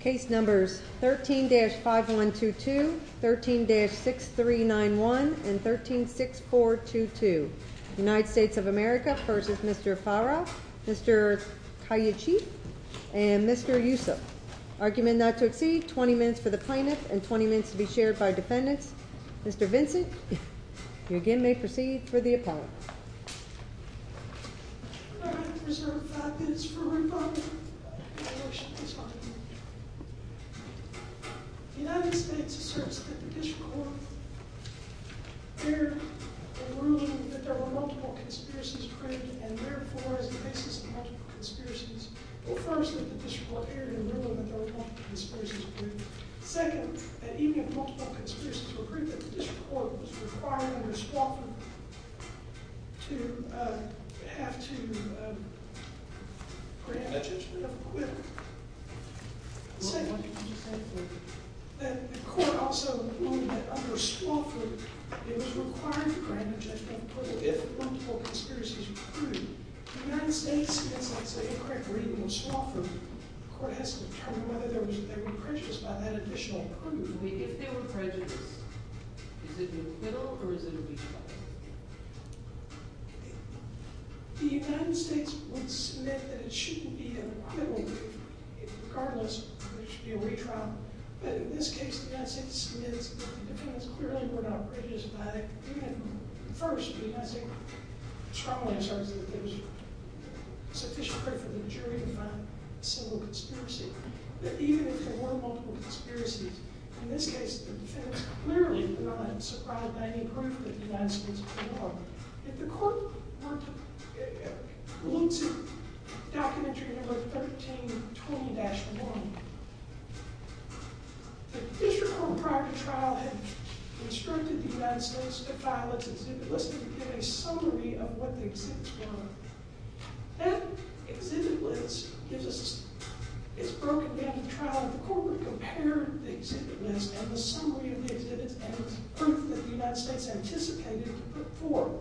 Case numbers 13-5122, 13-6391, and 13-6422 United States of America v. Mr. Fahra, Mr. Kayachi, and Mr. Yusuf Argument not to exceed 20 minutes for the plaintiff and 20 minutes to be shared by defendants Mr. Vincent, you again may proceed for the appellate I'd like to reserve five minutes for rebuttal The United States asserts that the District Court Heard in ruling that there were multiple conspiracies created And therefore, as the basis of multiple conspiracies First, that the District Court heard in ruling that there were multiple conspiracies created Second, that even if multiple conspiracies were created That the District Court was required under Swofford To have to grant a judgment of acquittal What did you say? That the Court also ruled that under Swofford It was required to grant a judgment of acquittal if multiple conspiracies were proved The United States, in its incorrect reading of Swofford The Court has to determine whether they were prejudiced by that additional proof If they were prejudiced, is it an acquittal or is it a retrial? The United States would submit that it shouldn't be an acquittal Regardless, there should be a retrial But in this case, the United States submits The defendants clearly were not prejudiced by it First, the United States strongly asserts that there was sufficient credit for the jury to find a single conspiracy Second, that even if there were multiple conspiracies In this case, the defendants clearly were not surrounded by any proof that the United States was at war If the Court looked at documentary number 1320-1 The District Court, prior to trial, had instructed the United States to file its exhibit list To give a summary of what the exhibits were That exhibit list is broken down to trial And the Court would compare the exhibit list and the summary of the exhibits And the proof that the United States anticipated to put forth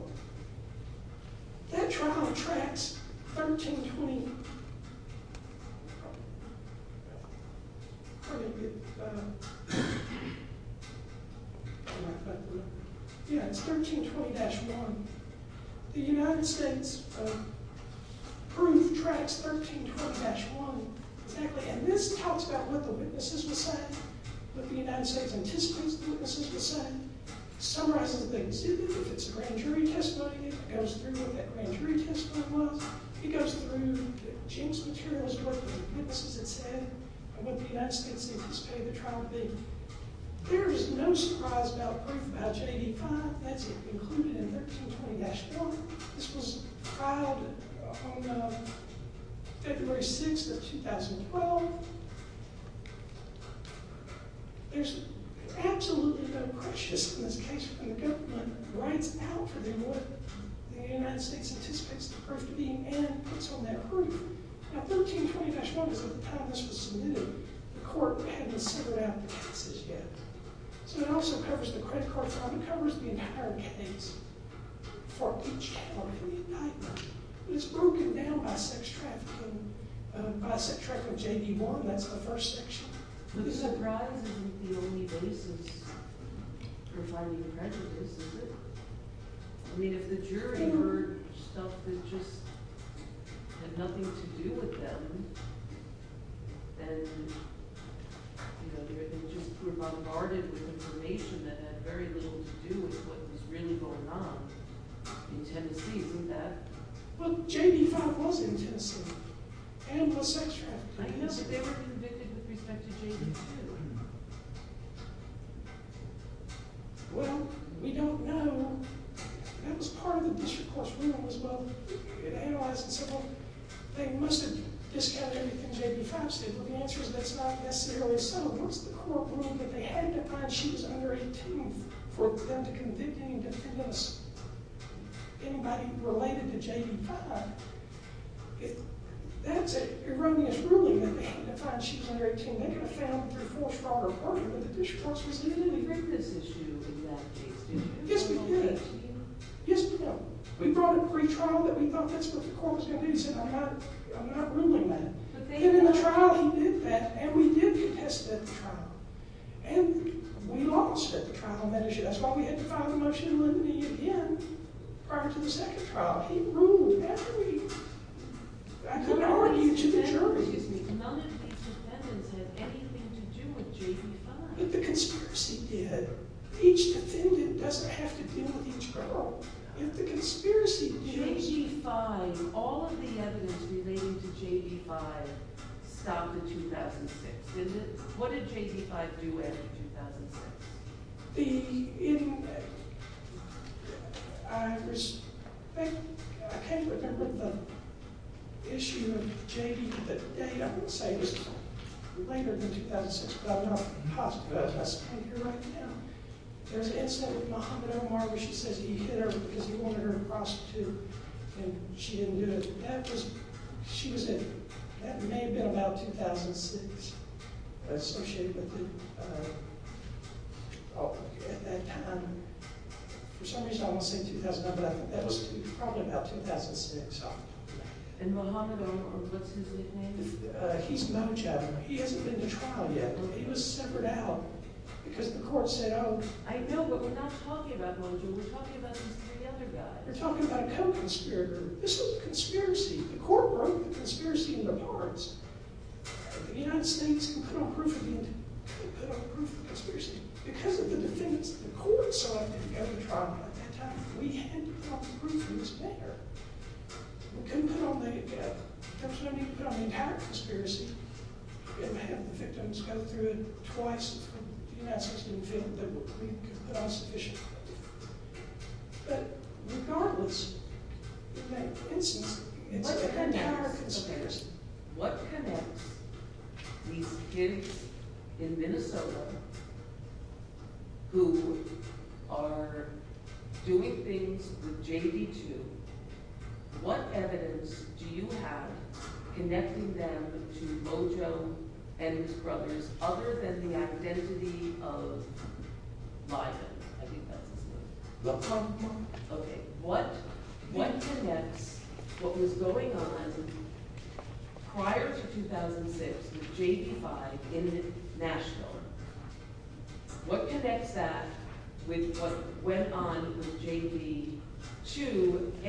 That trial tracks 1320-1 The United States' proof tracks 1320-1 And this talks about what the witnesses would say What the United States anticipates the witnesses would say Summarizes the exhibit, if it's a grand jury testimony It goes through what that grand jury testimony was It goes through Jim's materials, what the witnesses had said And what the United States anticipated the trial to be There is no surprise about proof about J.D. 5 That's included in 1320-1 This was filed on February 6, 2012 There's absolutely no question in this case when the government writes out What the United States anticipates the proof to be And puts on that proof Now 1320-1 was at the time this was submitted The Court hadn't set it out for passes yet So it also covers the credit card file It covers the entire case For each case It's broken down by sex trafficking By sex trafficking J.D. 1 That's the first section The surprise isn't the only basis for finding prejudice, is it? I mean, if the jury heard stuff that just had nothing to do with them Then, you know, they were just bombarded with information That had very little to do with what was really going on In Tennessee, isn't that? Well, J.D. 5 was in Tennessee And was sex trafficking I know that they were convicted with respect to J.D. 2 Well, we don't know That was part of the district court's rule as well They must have discounted everything J.D. 5 said But the answer is that's not necessarily so What's the court ruling that they had to find she was under 18 For them to convict any defendants Anybody related to J.D. 5 That's an erroneous ruling That they had to find she was under 18 They could have found her through false fraud or pardon But the district court's decision didn't agree We heard this issue in that case Yes, we did Yes, we did We brought it to retrial That we thought that's what the court was going to do We said, I'm not ruling that But in the trial, he did that And we did contest that trial And we lost at the trial That's why we had to find the motion with me again Prior to the second trial He ruled every... I couldn't argue to the jury None of these defendants had anything to do with J.D. 5 But the conspiracy did Each defendant doesn't have to deal with each girl J.D. 5, all of the evidence relating to J.D. 5 Stopped in 2006, didn't it? What did J.D. 5 do after 2006? I can't remember the issue of J.D. I would say it was later than 2006 I'm not positive, but I can't hear right now There's an incident with Mohammed Omar Where she says he hit her because he wanted her to prostitute And she didn't do it She was in... That may have been about 2006 Associated with the... At that time For some reason I won't say 2009 But that was probably about 2006 And Mohammed Omar, what's his nickname? He's no general He hasn't been to trial yet He was separated out Because the court said, oh... We're talking about a co-conspirator This was a conspiracy The court broke the conspiracy into parts The United States couldn't put on proof of the... Couldn't put on proof of the conspiracy Because of the defendants that the court selected to go to trial At that time, we had to put on the proof It was fair We couldn't put on the... There was no need to put on the entire conspiracy We didn't have the victims go through it twice The United States didn't feel that we could put on sufficient evidence But regardless In that instance It's an entire conspiracy What connects these kids in Minnesota Who are doing things with JV2 What evidence do you have Connecting them to Mojo and his brothers Other than the identity of Liza I think that's his name Okay, what connects What was going on Prior to 2006 With JV5 in Nashville What connects that With what went on with JV2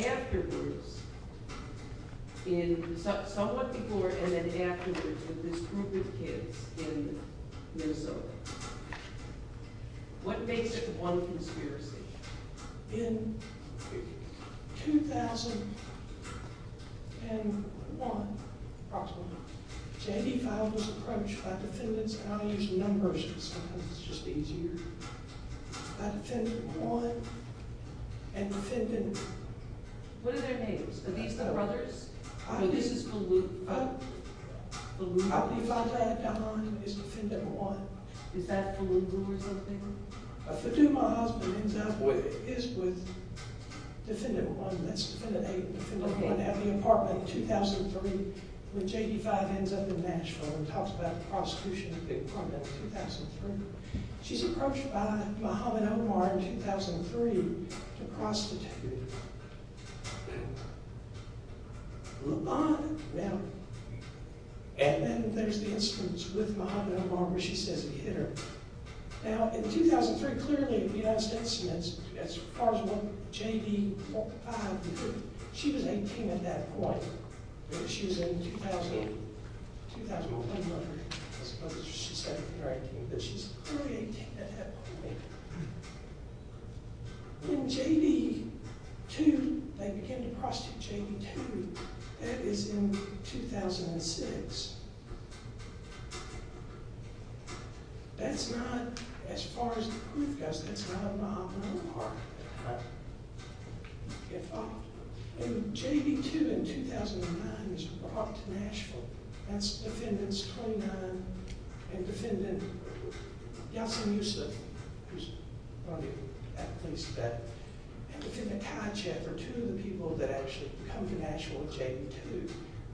Afterwards Somewhat before and then afterwards With this group of kids in Minnesota What makes it one conspiracy? In 2001 Approximately JV5 was approached by defendants And I'll use numbers because it's just easier By defendant Juan And defendant... What are their names? Are these the brothers? I believe I've had Don Is defendant Juan Is that the little blue or something? Faduma husband ends up with Is with Defendant Juan At the apartment in 2003 When JV5 ends up in Nashville And talks about the prosecution At the apartment in 2003 She's approached by Mohamed Omar In 2003 To prostitute Laban Now And then there's the instance With Mohamed Omar where she says he hit her Now in 2003 Clearly the United States As far as what JV5 did She was 18 at that point She was in 2000 2001 I suppose she's 17 or 18 But she's clearly 18 at that point In JV2 They begin to prostitute JV2 That is in 2006 That's not As far as the proof goes That's not Mohamed Omar JV2 in 2009 Is brought to Nashville That's defendants 2009 And defendant Yasin Yusuf Who's one of the police And defendant Kajet Are two of the people that actually come to Nashville With JV2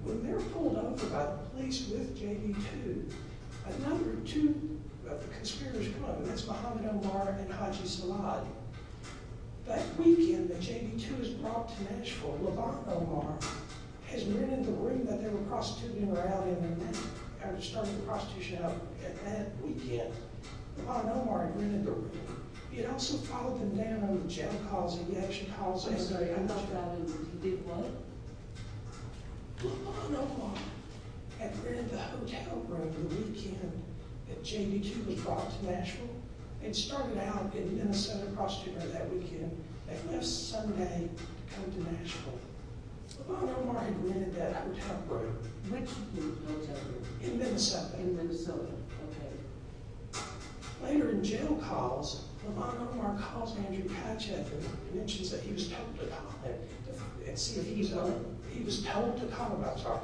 When they're pulled over by the police with JV2 Another two Conspirators come up And that's Mohamed Omar and Haji Salad That weekend That JV2 is brought to Nashville Laban Omar Has rented the room that they were prostituting Or out in And started the prostitution up At that weekend Laban Omar had rented the room He had also followed them down over the jail calls And the action calls Laban Omar Had rented the hotel room The weekend That JV2 was brought to Nashville And started out In a set of prostitutes that weekend And left Sunday To come to Nashville Laban Omar had rented that hotel room Which hotel room? In Minnesota Later in jail calls Laban Omar calls Andrew Kajet And mentions that he was told to call And see if he's He was told to call I'm sorry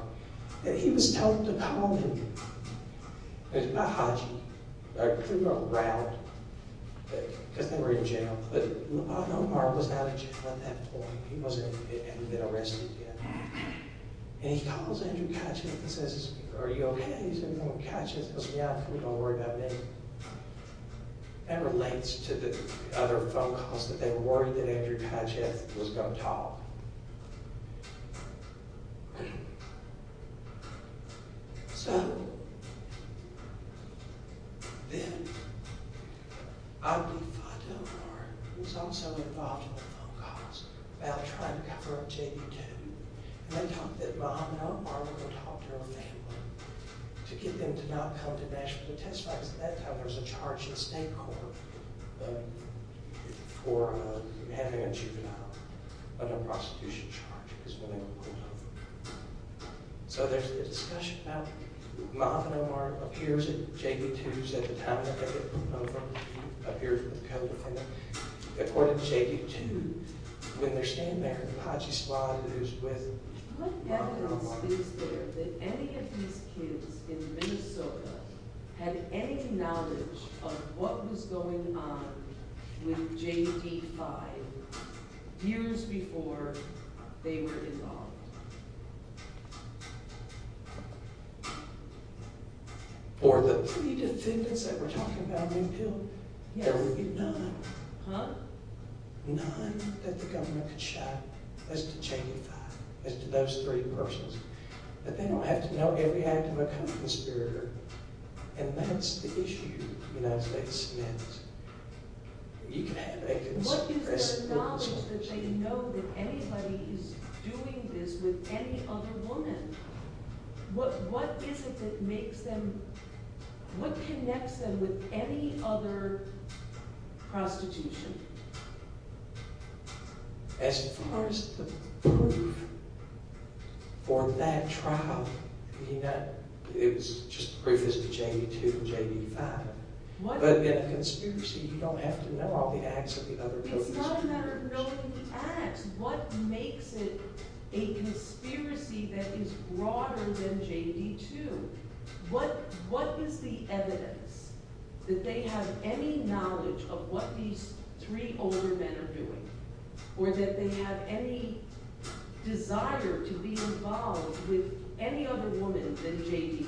That he was told to call Not Haji I couldn't go around Because they were in jail But Laban Omar was out of jail at that point He hadn't been arrested yet And he calls Andrew Kajet And says, are you ok? And Andrew Kajet says, yeah Don't worry about me That relates to the other phone calls That they were worried that Andrew Kajet Was going to talk So Then Abdu Fattah Omar Was also involved in the phone calls About trying to cover up JV2 And they talked that Laban Omar Would go talk to her family To get them to not come to Nashville To testify, because at that time There was a charge at state court For having a juvenile Under prosecution charge Because women were pulled over So there's a discussion About Laban Omar Appears at JV2's At the time According to JV2 When they're standing there Haji's father is with Laban Omar What evidence is there that any of these kids In Minnesota Had any knowledge Of what was going on With JV5 Years before They were involved Or The three defendants That were talking about being killed There would be none None that the government Could shout as to JV5 As to those three persons That they don't have to know Every act of a conspirator And that's the issue The United States met You could have a What is their knowledge that they know That anybody's doing this With any other woman What is it that makes them What connects them With any other Prostitution As far as The proof For that trial It was just Previous to JV2 and JV5 But in a conspiracy You don't have to know all the acts of the other It's not a matter of knowing the acts It's what makes it A conspiracy that is Broader than JV2 What is the evidence That they have Any knowledge of what these Three older men are doing Or that they have any Desire to be involved With any other woman Than JV2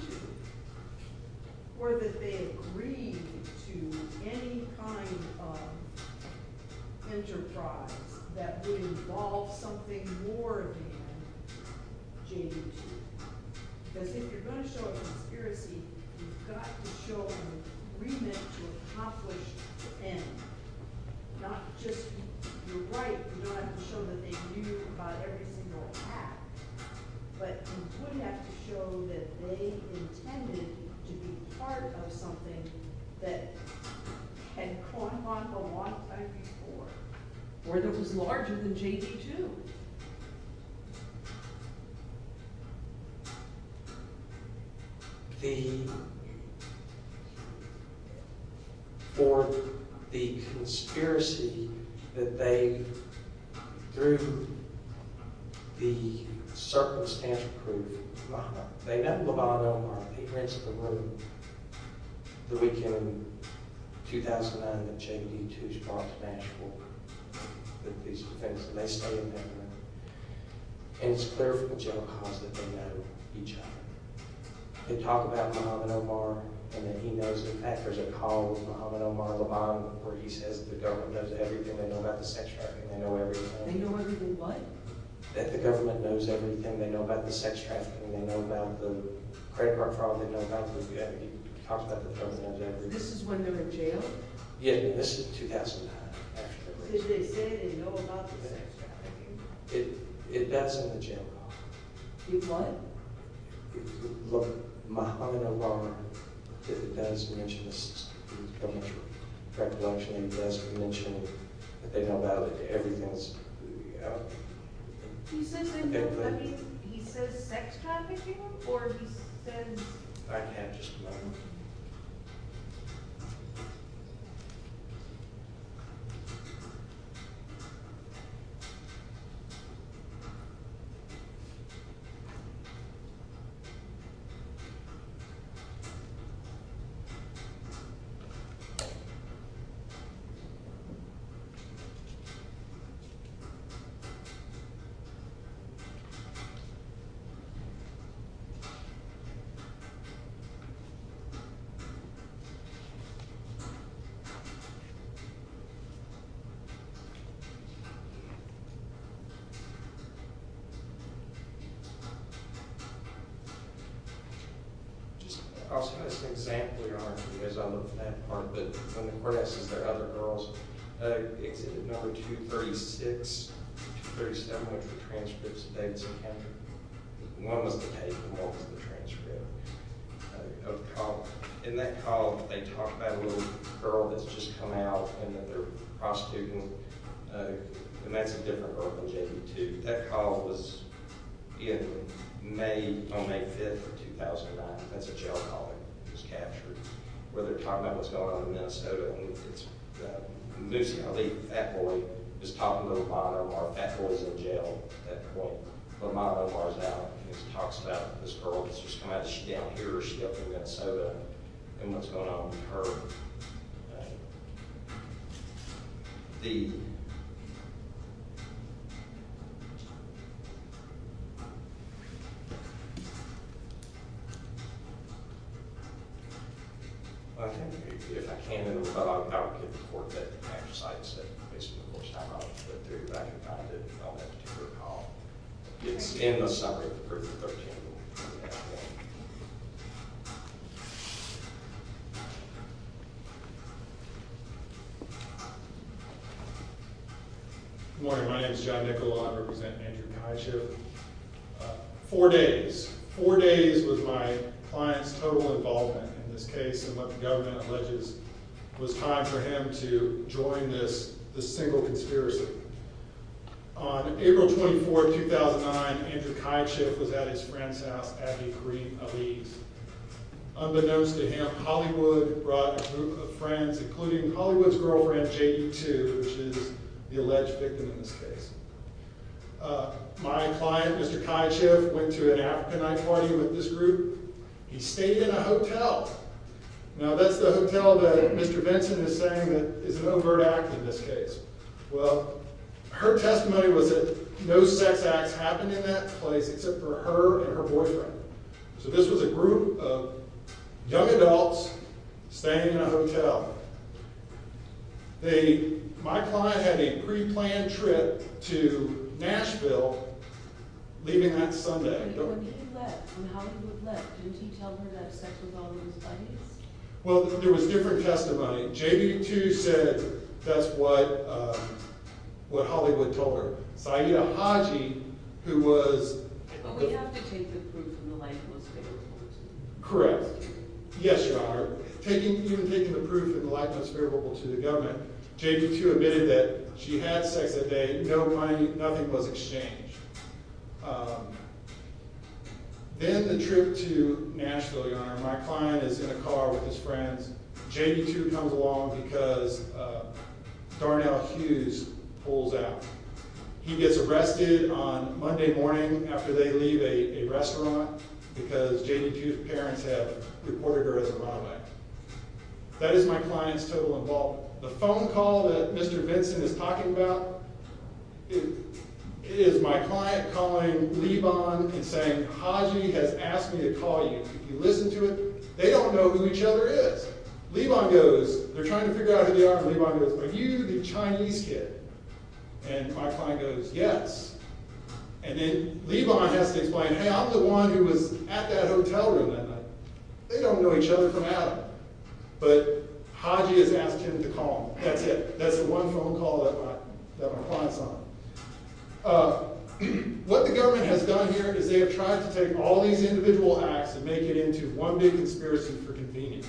Or that they agreed To any kind Of Enterprise That would involve something more Than JV2 Because if you're going to show A conspiracy You've got to show an agreement To accomplish the end Not just You're right, you don't have to show that they knew About every single act But you would have to show That they intended To be part of something That had Gone on a lot of times before Or that was larger than JV2 The Or the conspiracy That they Threw The Circumstantial proof They met Levon Omar, the principal Of the weekend In 2009 That JV2 brought to Nashville That these two things That they studied And it's clear from the general cons That they know each other They talk about Mohamed Omar And that he knows the fact There's a call with Mohamed Omar Levon Where he says the government knows everything They know about the sex trafficking They know everything what? That the government knows everything They know about the sex trafficking They know about the credit card fraud They know about the This is when they're in jail? Yeah, this is 2009 Because they say they know about The sex trafficking It does in the general In what? Look, Mohamed Omar It does mention The sex trafficking It does mention That they know about everything He says He says sex trafficking? Or he says I can't just remember Just I'll send us an example, your honor Because I love that part But when the court asks, is there other girls It's in number 236 237 with the transcripts Of Davidson County One was the paper, one was the transcript Of the call In that call, they talk about a little Girl that's just come out And that they're prostituting And that's a different girl than Jamie That call was In May, on May 5th Of 2009, that's a jail call That was captured Where they're talking about what's going on in Minnesota And it's Moosey That boy is talking to Omar Fat boy's in jail But Omar's out And he talks about this girl That's just come out, she's down here In Minnesota, and what's going on with her The If I can I'll get the court to Actualize The theory that It's in the Summary of the 13 Good morning, my name is John Nicolau, I represent Andrew Kiesch Four days Four days was my Client's total involvement In this case, and what the government Alleges, was time for him to Join this single Conspiracy On April 24th, 2009 Andrew Kiesch was at his friend's house At a green of ease Unbeknownst to him, Hollywood Brought a group of friends Including Hollywood's girlfriend Which is the alleged victim In this case My client, Mr. Kiesch Went to an African night party with this group He stayed in a hotel Now that's the hotel that Mr. Benson is saying is an overt Act in this case Well, her testimony was that No sex acts happened in that place Except for her and her boyfriend So this was a group of Young adults Staying in a hotel They My client had a pre-planned trip To Nashville Leaving that Sunday When he left, when Hollywood left Didn't he tell her to have sex with all of his buddies? Well, there was different testimony JV2 said That's what What Hollywood told her Syeda Haji, who was But we have to take the proof In the light of what's favorable to the government Correct, yes your honor Even taking the proof in the light of what's favorable To the government, JV2 Admitted that she had sex that day Nothing was exchanged Um Then the trip to Nashville, your honor, my client is In a car with his friends JV2 comes along because Darnell Hughes Pulls out He gets arrested on Monday morning After they leave a restaurant Because JV2's parents have Reported her as a runaway That is my client's total Involvement. The phone call that Mr. Benson is talking about It is My client calling Leibon And saying, Haji has asked me To call you. If you listen to it They don't know who each other is Leibon goes, they're trying to figure out who they are And Leibon goes, are you the Chinese kid? And my client goes Yes And then Leibon has to explain, hey I'm the one Who was at that hotel room that night They don't know each other from Adam But Haji Has asked him to call him. That's it That's all What the government has done here Is they have tried to take all these individual Acts and make it into one big Conspiracy for convenience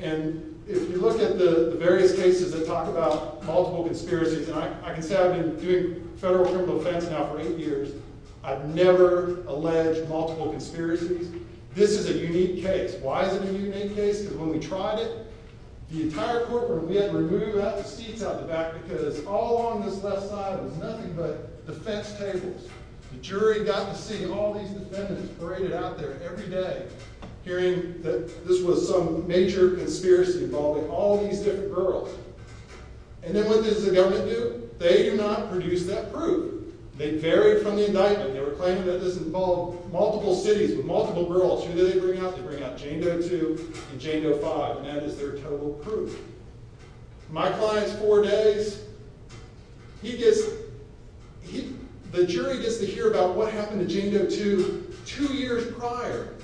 And If you look at the various cases That talk about multiple conspiracies I can say I've been doing federal criminal Defense now for eight years I've never alleged multiple Conspiracies. This is a unique Case. Why is it a unique case? Because when we tried it, the entire Courtroom, we had to remove seats out the back Because all along this left side Was nothing but defense tables The jury got to see all These defendants paraded out there every Day hearing that This was some major conspiracy Involving all these different girls And then what does the government do? They do not produce that proof They vary from the indictment They were claiming that this involved multiple Cities with multiple girls. Who do they bring out? They bring out Jane Doe 2 and Jane Doe 5 And that is their total proof My client's four days He gets The jury gets To hear about what happened to Jane Doe 2 Two years prior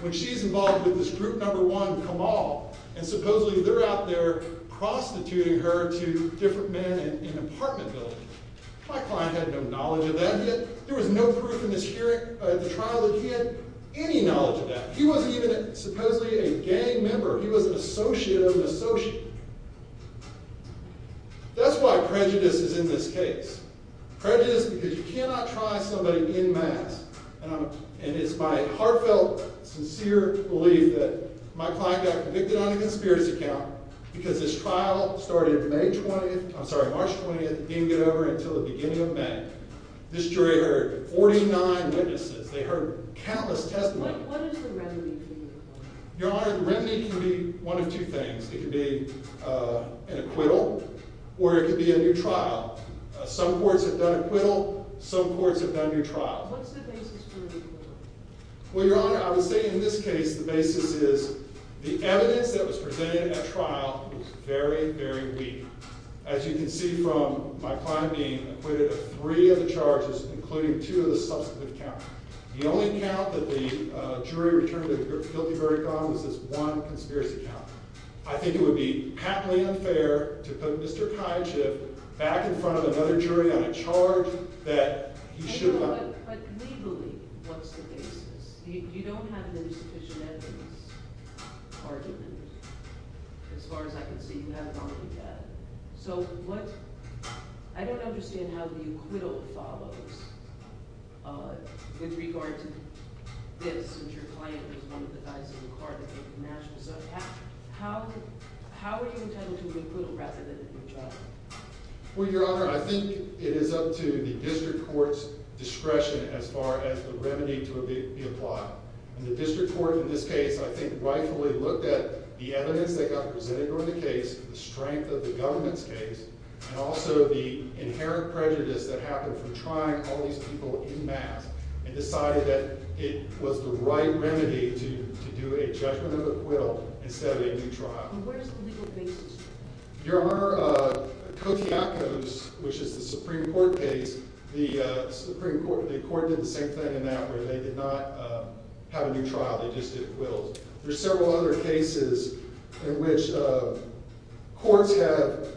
When she's involved with this group number One Kamal and supposedly They're out there prostituting her To different men in an apartment Building. My client had no Knowledge of that. There was no proof In the trial that he had Any knowledge of that. He wasn't even Supposedly a gang member. He was An associate of an associate That's why Prejudice is in this case Prejudice because you cannot try Somebody in mass And it's my heartfelt Sincere belief that my Client got convicted on a conspiracy count Because this trial started March 20th Didn't get over until the beginning of May This jury heard 49 Witnesses. They heard countless Testimonies. What is the remedy? Your Honor, the remedy can be One of two things. It can be An acquittal or It can be a new trial. Some courts Have done acquittal. Some courts Have done new trials. What's the basis for An acquittal? Well, Your Honor, I would say In this case, the basis is The evidence that was presented at trial Was very, very weak As you can see from My client being acquitted of three Of the charges including two of the subsequent Accounts. The only account that the Jury returned a guilty Verdict on was this one conspiracy account I think it would be patently Unfair to put Mr. Kaichif Back in front of another jury on A charge that he should not But legally, what's The basis? You don't have The sufficient evidence Argument As far as I can see, you have not done that So what I don't understand how the acquittal Follows With regard to This, which your client was one of the guys In the car that made the match. So How were you Entitled to an acquittal rather than a new trial? Well, Your Honor, I think It is up to the district court's Discretion as far as the remedy To be applied. And the District court in this case, I think, rightfully Looked at the evidence that got presented On the case, the strength of the Government's case, and also the Inherent prejudice that happened from trying All these people in mass And decided that it was the right Remedy to do a judgment Of acquittal instead of a new trial And where's the legal basis for that? Your Honor, Kotiakos, which is the Supreme Court case The Supreme Court The court did the same thing in that where they did not Have a new trial, they just Did acquittals. There's several other cases In which Courts have Discussed in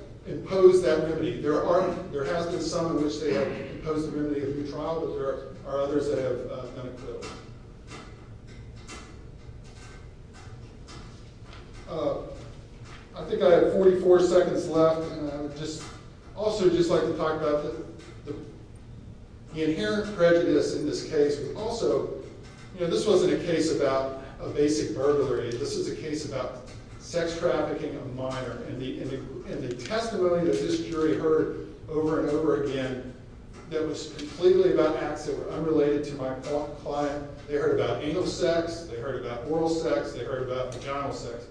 some in which they have proposed The remedy of a new trial, but there are others That have done acquittals. I think I have 44 Seconds left, and I would just Also just like to talk about The inherent Prejudice in this case, but also You know, this wasn't a case about A basic burglary. This is a case About sex trafficking Of a minor, and the testimony That this jury heard over and over Again, that was completely About acts that were unrelated to my Client. They heard about anal sex They heard about oral sex, they heard About vaginal sex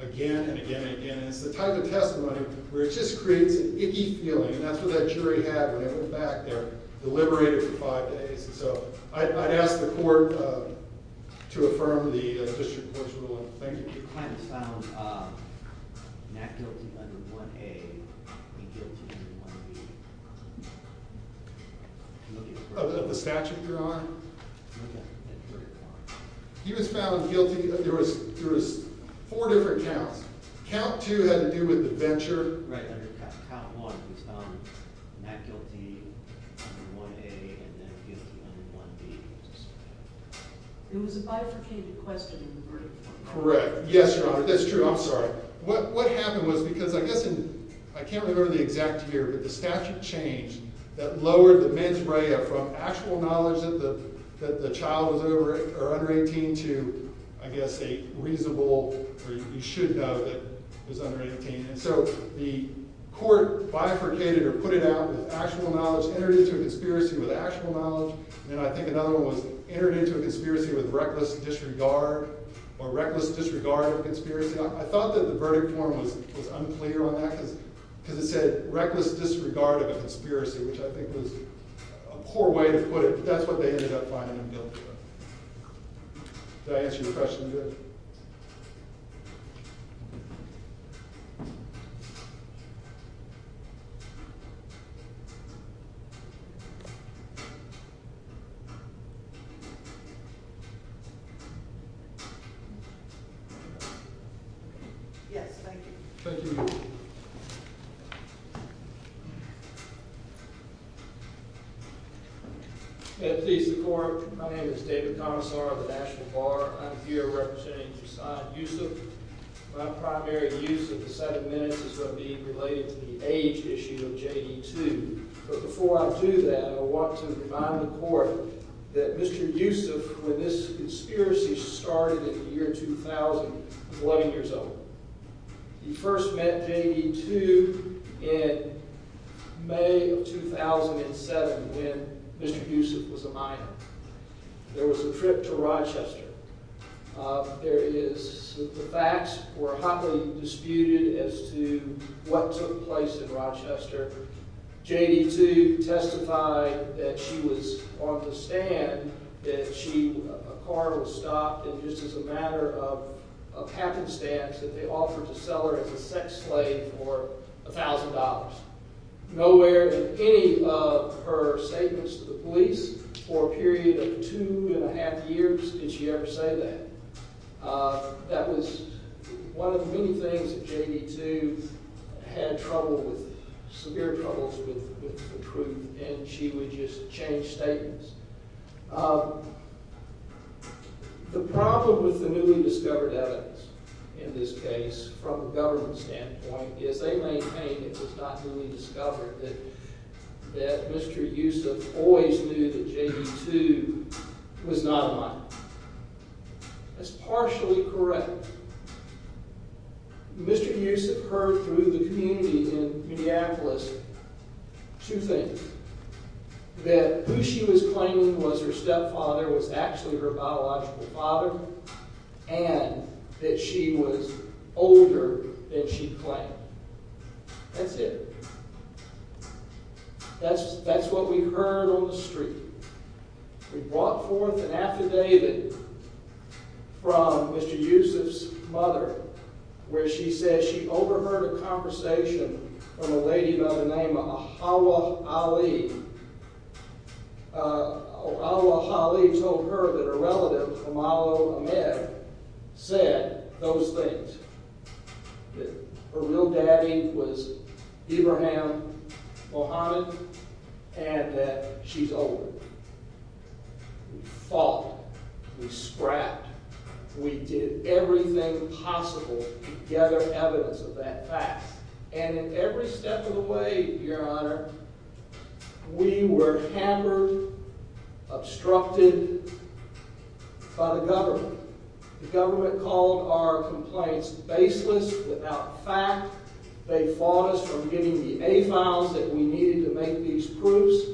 again And again and again, and it's the type of testimony Where it just creates an icky feeling And that's what that jury had when they went back There, deliberated for five days And so I'd ask the court To affirm the District Court's ruling. Thank you. Your client was found Not guilty Under 1A, and guilty Under 1B. Of the Statute you're on? He was found Guilty, there was Four different counts. Count Two had to do with the venture Right, under count one, he was found Not guilty Under 1A, and then guilty under 1B. It was a bifurcated question in the I'm sorry, what happened was Because I guess, I can't remember the exact Year, but the statute changed That lowered the mens rea from Actual knowledge that the Child was under 18 to I guess a reasonable Or you should know that Was under 18, and so the Court bifurcated or put it out With actual knowledge, entered into a Conspiracy with actual knowledge, and I think Another one was entered into a conspiracy With reckless disregard Or reckless disregard of conspiracy I thought that the verdict form was Unclear on that, because it Said reckless disregard of a conspiracy Which I think was a poor Way to put it, but that's what they ended up Finding him guilty of Did I answer your question? Yes, thank you Thank you May it please the court My name is David Commissar of the National Bar I'm here representing Josiah Yusuf My primary use of the seven minutes Is going to be related to the age issue Of J.D. 2, but before I Do that, I want to remind the court That Mr. Yusuf When this conspiracy started In the year 2000 Was 11 years old He first met J.D. 2 In May Of 2007 When Mr. Yusuf was a minor There was a trip to Rochester There is The facts were Hotly disputed as to What took place in Rochester J.D. 2 Testified that she was On the stand That a car was stopped And just as a matter of Happenstance that they offered to sell her As a sex slave for A thousand dollars Nowhere in any of her Statements to the police For a period of two and a half years Did she ever say that That was One of the many things that J.D. 2 Had trouble with Severe troubles with The truth and she would just Change statements The problem with the newly discovered Evidence in this case From a government standpoint Is they maintain it was not newly discovered That Mr. Yusuf always knew that J.D. 2 was not A minor That's partially correct Mr. Yusuf Heard through the community in Two things That who she was claiming was her Stepfather was actually her biological Father And that she was Older than she claimed That's it That's what we heard on the street We brought forth an Affidavit From Mr. Yusuf's Mother where she says She overheard a conversation From a lady by the name of Ahawa Ali Ahawa Ali told her that her relative Kamala Ahmed Said those things That her real Daddy was Ibrahim Mohammed And that she's older We fought, we scrapped We did everything Possible to gather evidence Of that fact And every step of the way, your honor We were Hammered Obstructed By the government The government called our complaints Baseless, without fact They fought us from getting the A-files that we needed to make these Proofs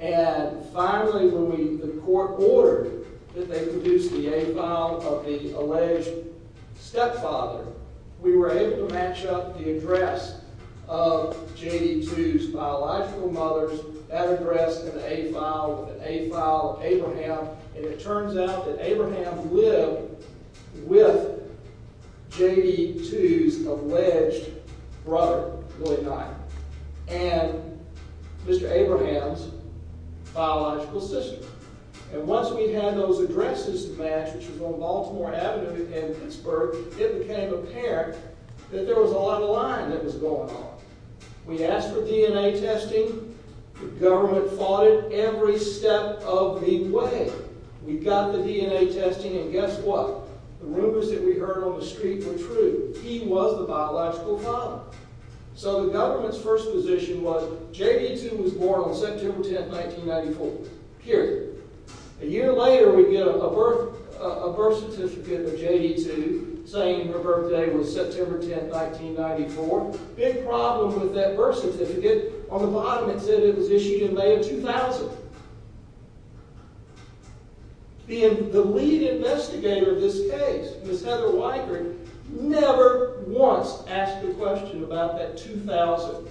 and Finally when we, the court ordered That they produce the A-file Of the alleged Stepfather We were able to match up the address Of J.D. II's biological mother That address in the A-file With the A-file of Abraham And it turns out that Abraham lived With J.D. II's Alleged brother And Mr. Abraham's Biological sister And once we had those addresses Matched, which was on Baltimore Avenue In Pittsburgh, it became apparent That there was a lot of lying That was going on We asked for DNA testing The government fought it every Step of the way We got the DNA testing and guess What? The rumors that we heard On the street were true. He was the Biological father So the government's first position was J.D. II was born on September 10th 1994, period A year later we get A birth certificate Of J.D. II saying her birthday Was September 10th, 1994 Big problem with that birth Certificate, on the bottom it said It was issued in May of 2000 The lead Investigator of this case, Ms. Heather Weigert, never Once asked a question about that 2000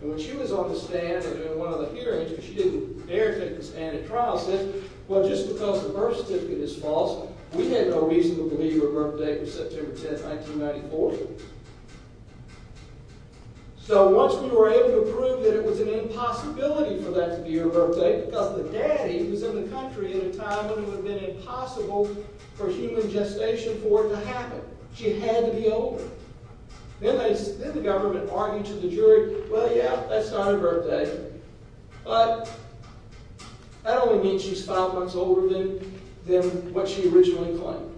And when she was on the stand During one of the hearings, she didn't dare Take the stand at trial, said Well just because the birth certificate is false We had no reason to believe her birthday Was September 10th, 1994 So once we were able to prove That it was an impossibility for that To be her birthday, because the daddy Was in the country at a time when it would have been Impossible for human Gestation for it to happen She had to be older Then the government argued to the jury Well yeah, that's not her birthday But That only means she's five months Older than what she originally Claimed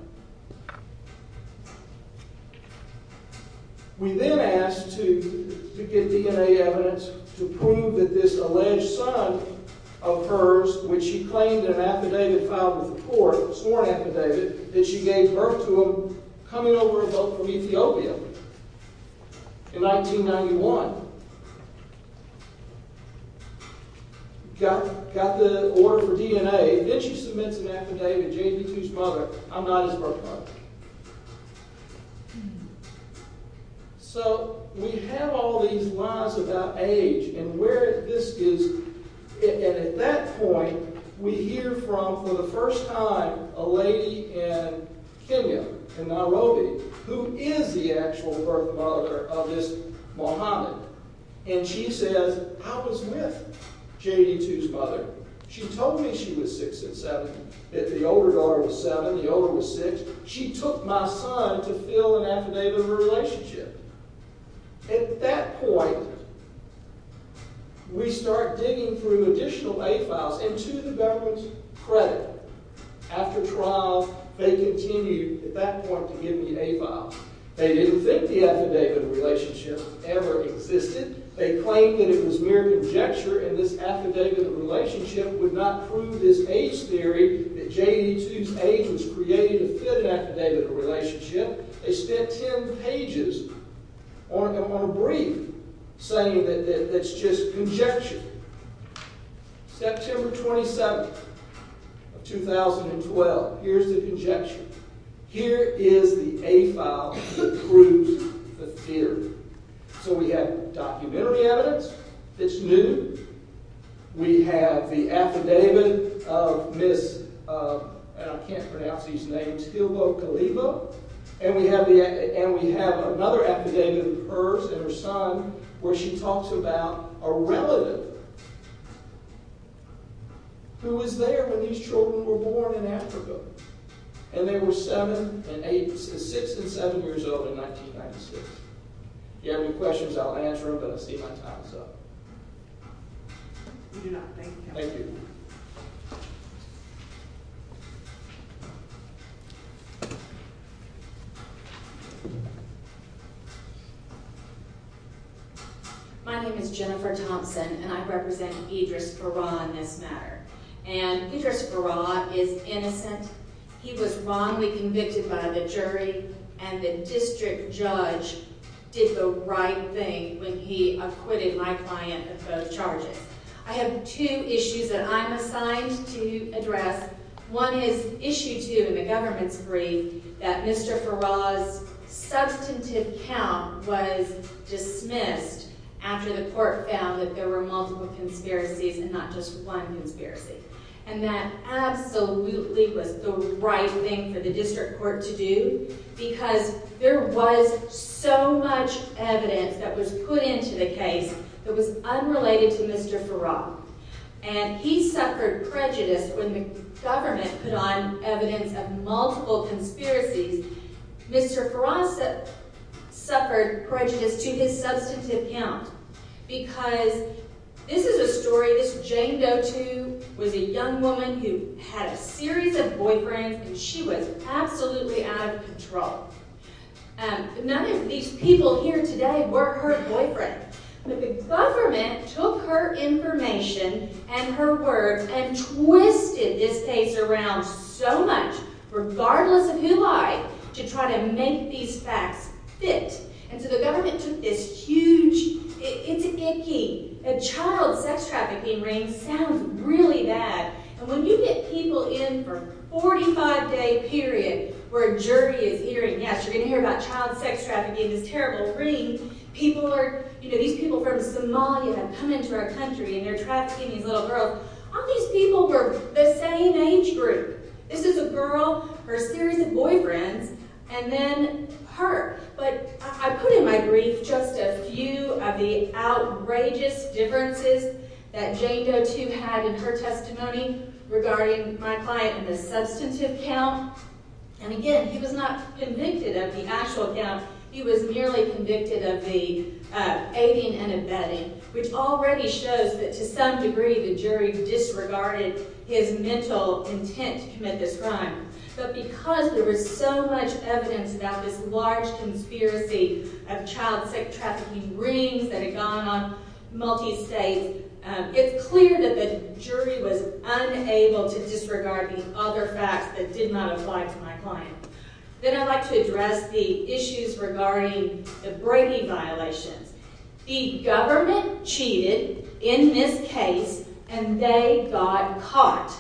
We then asked to To get DNA evidence To prove that this alleged son Of hers, which she Claimed an affidavit filed with the court A sworn affidavit, that she gave birth To him coming over a boat From Ethiopia In 1991 Got the Order for DNA, then she submits an affidavit To JP2's mother, I'm not his Birth mother So we have all these Lies about age, and where This is, and at That point, we hear from For the first time, a lady In Kenya In Nairobi, who is The actual birth mother of this Mohammed, and she Says, I was with JP2's mother, she Told me she was six and seven That the older daughter was seven, the older was Six, she took my son To fill an affidavit of her relationship At that point We start digging through additional A files, and to the government's Credit, after trial They continued, at that point To give me an A file, they didn't think The affidavit of relationship Ever existed, they claimed that It was mere conjecture, and this affidavit Of relationship would not prove This age theory, that JP2's Age was created to fit an Affidavit of relationship, they spent Ten pages On a brief Saying that it's just conjecture September 27th 2012, here's the Conjecture, here is the A file that proves The theory, so we Have documentary evidence That's new, we Have the affidavit Of Miss I can't pronounce these names And we have Another affidavit Of hers and her son, where she Talks about a relative Who was there When these children were born In Africa, and they were Seven and eight, six and seven Years old in 1996 If you have any questions, I'll answer them But I see my time's up We do not thank you Thank you Thank you My name is Jennifer Thompson And I represent Idris Bara On this matter, and Idris Bara Is innocent, he was Wrongly convicted by the jury And the district judge Did the right thing When he acquitted my client Of both charges, I have Two issues that I'm assigned To address, one is Issue two in the government's brief That Mr. Farah's Substantive count was Dismissed after The court found that there were multiple Conspiracies and not just one Conspiracy, and that Absolutely was the right thing For the district court to do Because there was So much evidence that was Put into the case that was Unrelated to Mr. Farah And he suffered prejudice When the government put on Evidence of multiple conspiracies Mr. Farah Suffered prejudice To his substantive count Because this is A story, this Jane Doe too Was a young woman who had A series of boyfriends and she was Absolutely out of control None of these People here today were her boyfriend But the government took Her information and her Words and twisted This case around so much Regardless of who lied To try to make these facts Fit, and so the government took This huge, it's Icky, a child sex trafficking Ring sounds really bad And when you get people in For a 45 day period Where a jury is hearing, yes You're going to hear about child sex trafficking This terrible ring, people are These people from Somalia have come Into our country and they're trafficking these little girls All these people were the same Age group, this is a girl Her series of boyfriends And then her But I put in my brief Just a few of the outrageous Differences that Jane Doe too had in her testimony Regarding my client And the substantive count And again, he was not Convicted of the actual count He was merely convicted of the Aiding and abetting Which already shows that to some degree The jury disregarded His mental intent to commit This crime, but because There was so much evidence about this Large conspiracy of child Sex trafficking rings that had Gone on multi-state It's clear that the jury Was unable to disregard The other facts that did not apply To my client. Then I'd like to Address the issues regarding The Brady violations The government cheated In this case And they got caught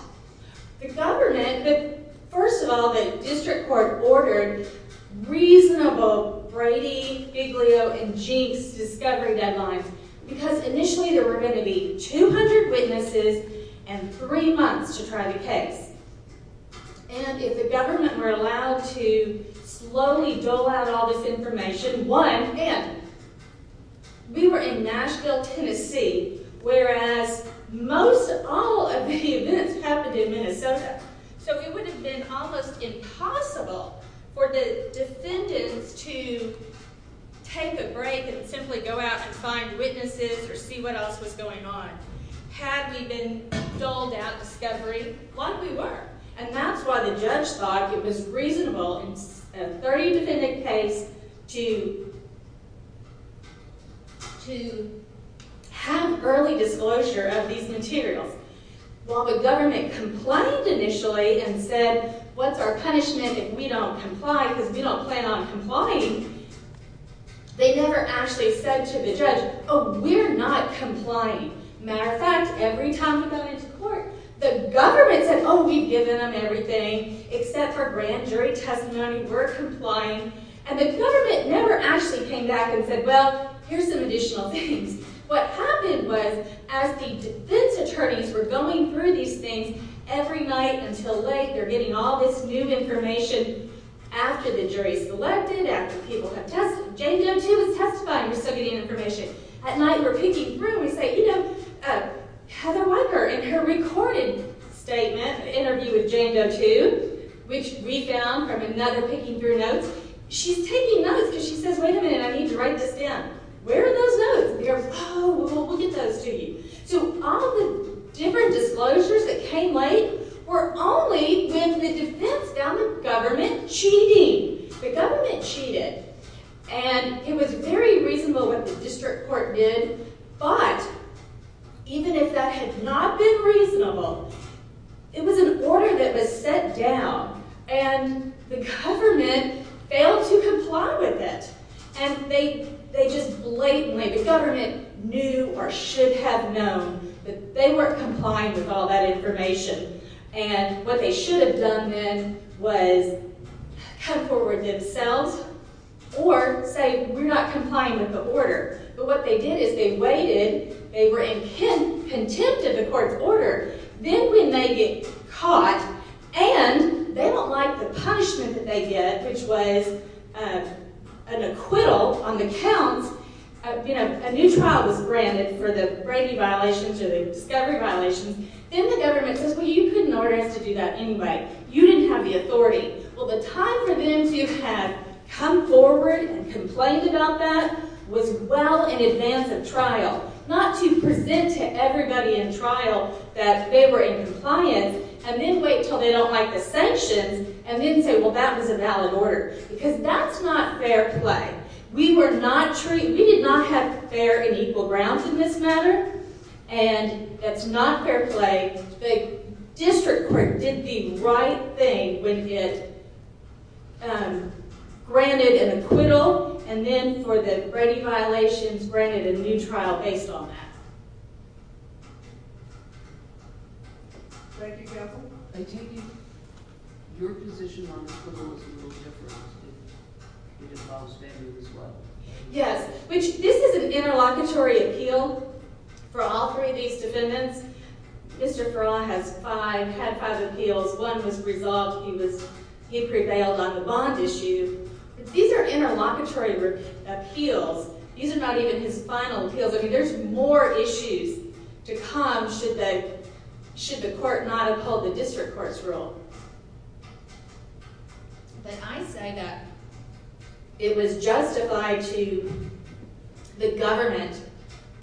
The government First of all, the district court Ordered reasonable Brady, Figlio And Jeeps discovery deadlines Because initially there were going to be 200 witnesses And three months to try The case And if the government were allowed to Slowly dole out all this Information, one, and We were in Nashville Tennessee, whereas Most all of the Events happened in Minnesota So it would have been almost impossible For the defendants To Take a break and simply go out And find witnesses or see what else Was going on. Had we been Doled out discovery Like we were. And that's why the judge Thought it was reasonable In a 30 defendant case To To Have early disclosure Of these materials. While The government complained initially And said, what's our punishment If we don't comply because we don't plan On complying They never actually said to the judge Oh, we're not complying Matter of fact, every time we Went into court, the government said Oh, we've given them everything Except for grand jury testimony We're complying. And the government Never actually came back and said, well Here's some additional things What happened was, as the Defense attorneys were going through these Things every night until late They're getting all this new information After the jury's selected After people have testified Jane Doe 2 was testifying. We're still getting Information. At night we're picking through And we say, you know, Heather Weicker in her recorded statement Interview with Jane Doe 2 Which we found from another Picking through notes. She's taking Notes because she says, wait a minute, I need to write this Down. Where are those notes? Oh, we'll get those to you. So all the different disclosures That came late were only When the defense found the Government cheating. The And it was very reasonable what the District court did, but Even if that had not Been reasonable It was an order that was set down And the government Failed to comply With it. And they Just blatantly, the government Knew or should have known That they weren't complying with all That information. And what They should have done then was Come forward themselves Or say, we're not Complying with the order. But what they Did is they waited. They were In contempt of the court's order Then when they get caught And they don't Like the punishment that they get Which was An acquittal on the counts You know, a new trial was granted For the Brady violations or the Discovery violations. Then the government Says, well, you couldn't order us to do that anyway You didn't have the authority. Well, the Time for them to have Come forward and complained about that Was well in advance Of trial. Not to present To everybody in trial That they were in compliance And then wait until they don't like the sanctions And then say, well, that was a valid order Because that's not fair play We were not treated We did not have fair and equal grounds In this matter. And That's not fair play The district court did the right Thing when it Um, granted An acquittal and then for the Brady violations granted a new Trial based on that Thank you, Capil I take it your position On the acquittal was a little different It involves family as well Yes, which this is An interlocutory appeal For all three of these defendants Mr. Perla has five Appeals. One was resolved He prevailed on the bond Issue. These are interlocutory Appeals These are not even his final appeals There's more issues to Come should the Court not uphold the district court's rule But I say that It was justified To the government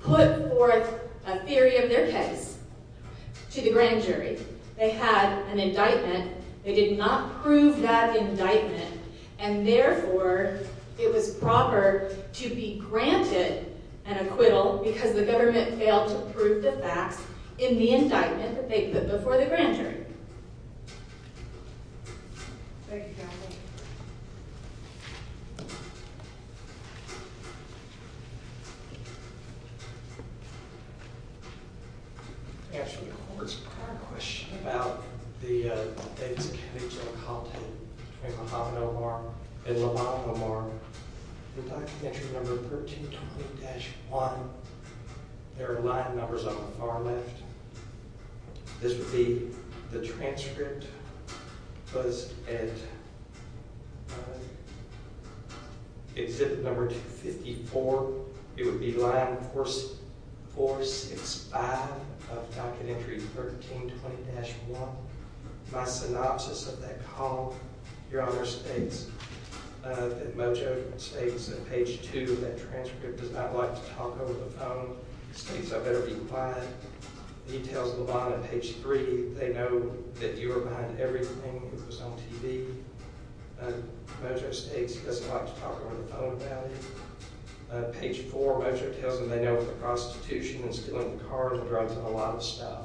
Put forth A theory of their case To the grand jury They had an indictment They did not prove that indictment And therefore It was proper to be Granted an acquittal Because the government failed to prove The facts in the indictment That they put before the grand jury Thank you, Capil Answering the court's prior question About the Accusation of content Between Muhammad Omar and Laman Omar Documentary number 1320-1 There are line numbers On the far left This would be The transcript Was at Exhibit Number 254 It would be line 465 Of documentary 1320-1 My synopsis of that call Your honor states That Mojo states That page 2 of that transcript Does not like to talk over the phone States I better be quiet He tells Laman on page 3 They know that you were behind everything That was on TV Mojo states he doesn't like To talk over the phone about it Page 4 Mojo tells them They know the prostitution and stealing cars And drugs and a lot of stuff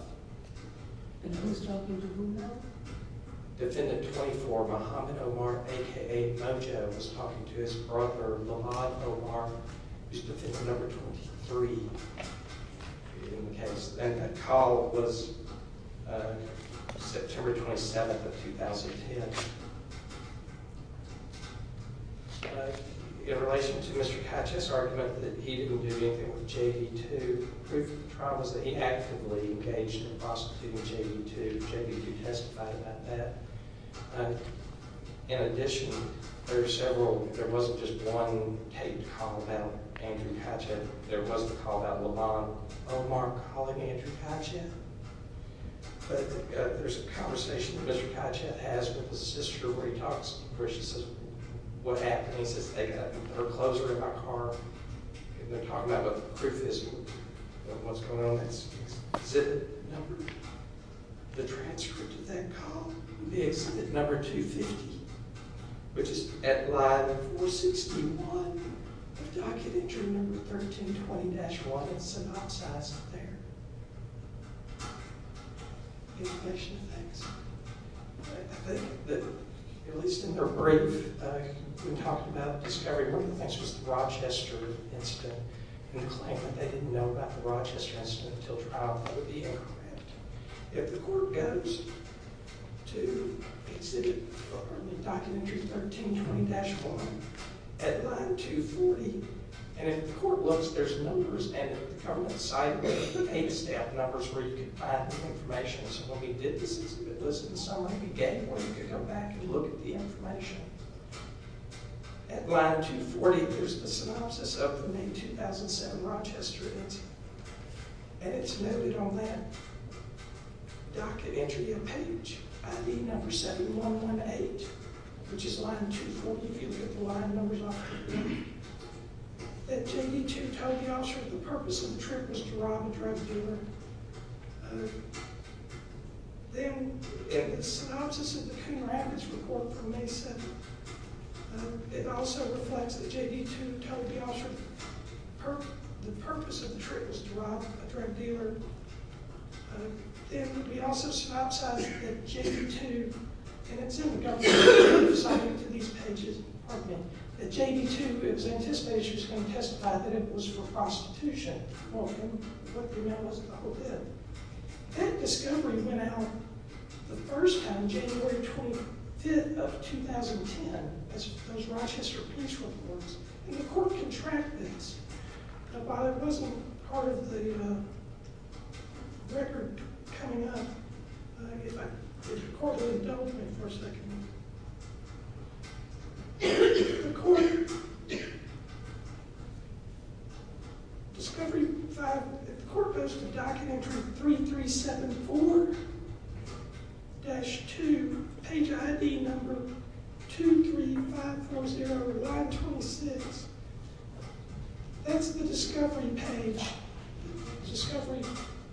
And who's talking to whom now? Defendant 24 Muhammad Omar aka Mojo Was talking to his brother Laman Omar Who's defendant number 23 In the case And that call was September 27th of 2010 In relation to Mr. Kajet's argument That he didn't do anything with JV2 Proof of the trial was that he actively Engaged in prostituting JV2 JV2 testified about that In addition There were several There wasn't just one taped call About Andrew Kajet There was the call about Laman Omar Calling Andrew Kajet But there's a conversation Mr. Kajet has with his sister Where he talks to her What happened They put her closer in my car And they're talking about what the proof is What's going on Exhibit number The transcript of that call Exhibit number 250 Which is at line 461 Document entry number 1320-1 It's synopsized up there In relation to things I think that At least in their brief When talking about discovery One of the things was the Rochester incident And the claim that they didn't know about The Rochester incident until trial That would be incorrect If the court goes to Exhibit number Document entry 1320-1 At line 240 And if the court looks There's numbers And at the government site There's eight staff numbers Where you can find the information So when we did this exhibit You could go back and look at the information At line 240 There's a synopsis of the May 2007 Rochester incident And it's noted on that Document entry A page ID number 7118 Which is line 240 You can get the line numbers off That J.D. 2 told Yosher The purpose of the trip was to rob a drug dealer Then Synopsis of the Coon Rapids report From May 7 It also reflects that J.D. 2 told Yosher The purpose of the trip was to rob A drug dealer Then we also Synopsize that J.D. 2 And it's in the government To these pages That J.D. 2 It was anticipated that she was going to testify That it was for prostitution That discovery Went out The first time January 25th of 2010 Those Rochester police reports And the court can track this But while it wasn't Part of the Record coming up If the court will indulge me For a second The court Discovery 5 The court goes to Document entry 3374 Dash 2 Page ID number 23540 Line 26 That's the discovery page Discovery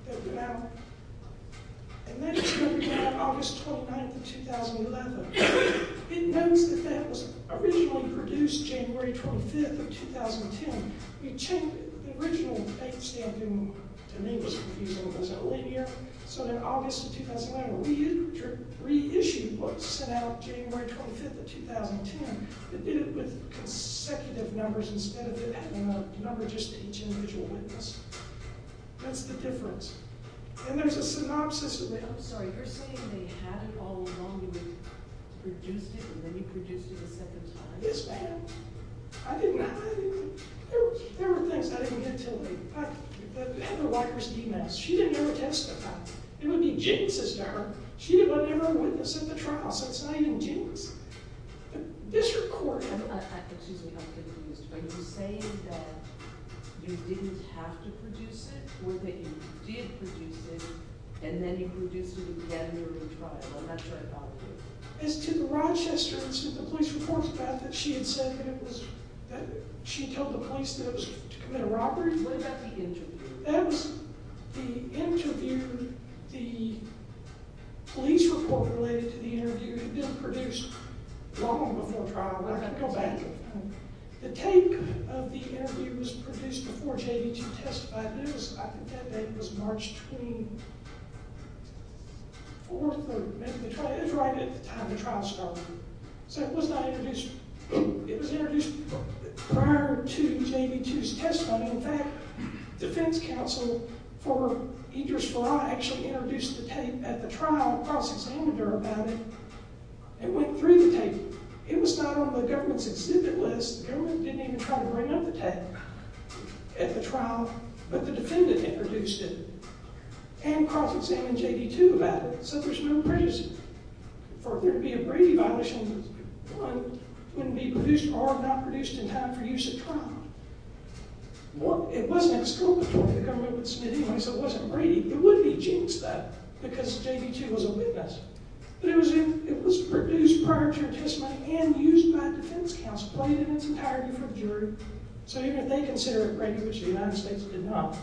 That went out And that discovery went out August 29th of 2011 It notes that that was Originally produced January 25th Of 2010 We changed the original Name stamp So that August of 2011 We reissued What sent out January 25th Of 2010 But did it with consecutive numbers Instead of having a number Just for each individual witness That's the difference And there's a synopsis I'm sorry, you're saying they had it all along And they produced it And then you produced it a second time I didn't There were things I didn't get to She didn't ever testify It would be jinxes to her She would never witness at the trial So it's not even jinxes District Court Excuse me Are you saying that You didn't have to produce it Or that you did produce it And then you produced it again During the trial As to the Rochester Police reports about that She told the police That it was to commit a robbery What about the interview The interview The police report Related to the interview The interview didn't produce Long before trial The tape of the interview Was produced before JV2 testified I think that date was March 24th It was right at the time the trial started So it was not introduced It was introduced Prior to JV2's testimony In fact, defense counsel For Idris Farah Actually introduced the tape at the trial The trial cross-examined her about it It went through the tape It was not on the government's exhibit list The government didn't even try to bring up the tape At the trial But the defendant introduced it And cross-examined JV2 About it So there's no prejudice For there to be a Brady violation Wouldn't be produced or not produced In time for use at trial It wasn't exculpatory The government would submit it It wouldn't be Jinxed Because JV2 was a witness But it was produced Prior to her testimony And used by defense counsel So even if they consider it Brady Which the United States did not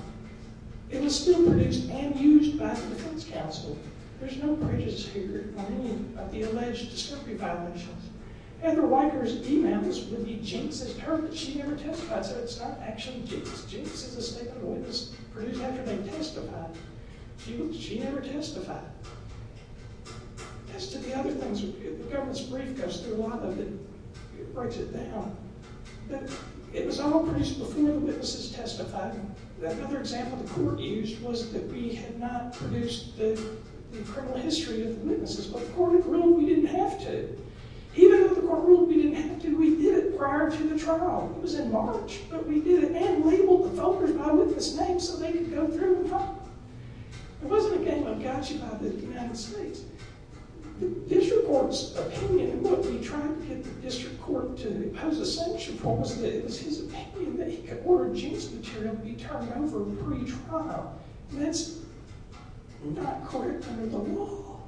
It was still produced And used by the defense counsel There's no prejudice here On any of the alleged discovery violations Heather Weicker's emails Would be Jinxed She never testified So it's not actually Jinxed Jinxed is a statement a witness Produced after they testified She never testified As to the other things The government's brief goes through a lot of it It breaks it down But it was all produced before The witnesses testified Another example the court used Was that we had not produced The criminal history of the witnesses But the court had ruled we didn't have to Even though the court ruled we didn't have to We did it prior to the trial It was in March, but we did it And labeled the voters by witness name So they could go through and vote It wasn't a game of gotcha by the United States The district court's opinion In what we tried to get the district court To impose a sanction for Was that it was his opinion That he could order Jinxed material To be turned over pre-trial And that's not correct under the law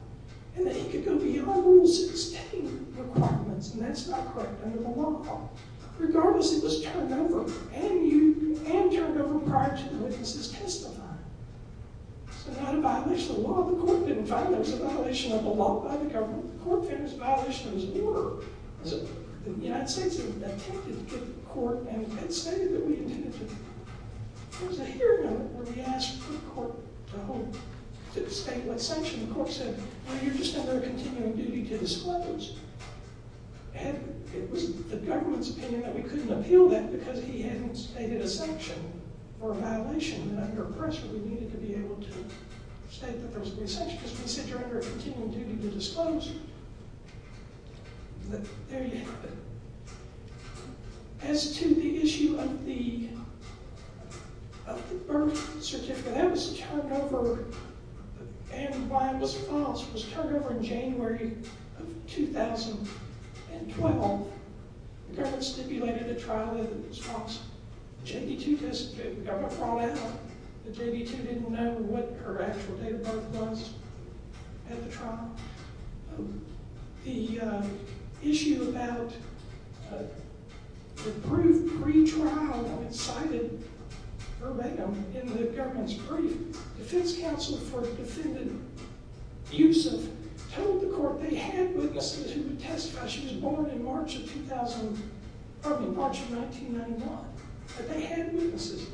And that he could go beyond Rule 16 requirements And that's not correct under the law Regardless, it was turned over And turned over prior To the witnesses' testifying So not a violation of the law The court didn't find there was a violation of the law By the government The court found there was a violation of his order The United States attempted to get the court And stated that we intended to There was a hearing on it Where we asked for the court to hold To state what sanction the court said Well, you're just under continuing duty To disclose And it was the government's opinion That we couldn't appeal that Because he hadn't stated a sanction Or a violation And under pressure we needed to be able to State that there was any sanction Because we said you're under continuing duty to disclose But there you have it As to the issue of the Of the birth certificate That was turned over And why it was false It was turned over in January Of 2012 The government stipulated A trial that it was false The JV2 test The government brought out The JV2 didn't know what her actual date of birth was At the trial The Issue about The proof Pre-trial That it cited In the government's brief The defense counsel for the defendant Yusuf Told the court they had witnesses Who testified she was born in March of 2000, probably March of 1991, that they had witnesses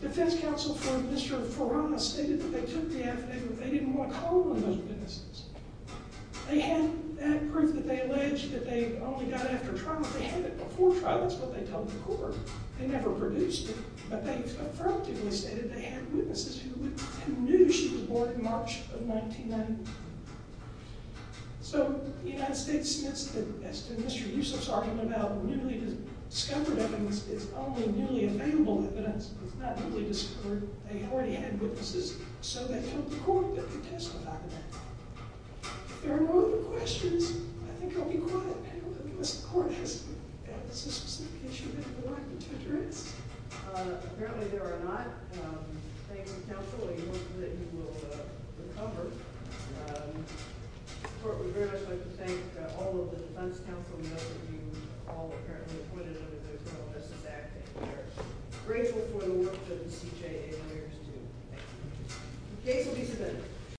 The defense counsel For Mr. Forana stated that they Took the affidavit, they didn't want Harm on those witnesses They had that proof that they alleged That they only got it after trial They had it before trial, that's what they told the court They never produced it But they affirmatively stated they had Witnesses who knew she was Born in March of 1991 So The United States sentenced it As to Mr. Yusuf's argument about newly Discovered evidence, it's only Newly available evidence, it's not Newly discovered, they already had witnesses So they told the court that they testified About it If there are no other questions, I think I'll be quiet, because the court Has a specific issue Do you have a point to address? Apparently there are not Thank you counsel, we hope that you Will recover The court would very much Like to thank all of the defense Counsel, we know that you all apparently Appointed under the Criminal Justice Act And we are grateful for the work That the CJA lawyers do The case will be submitted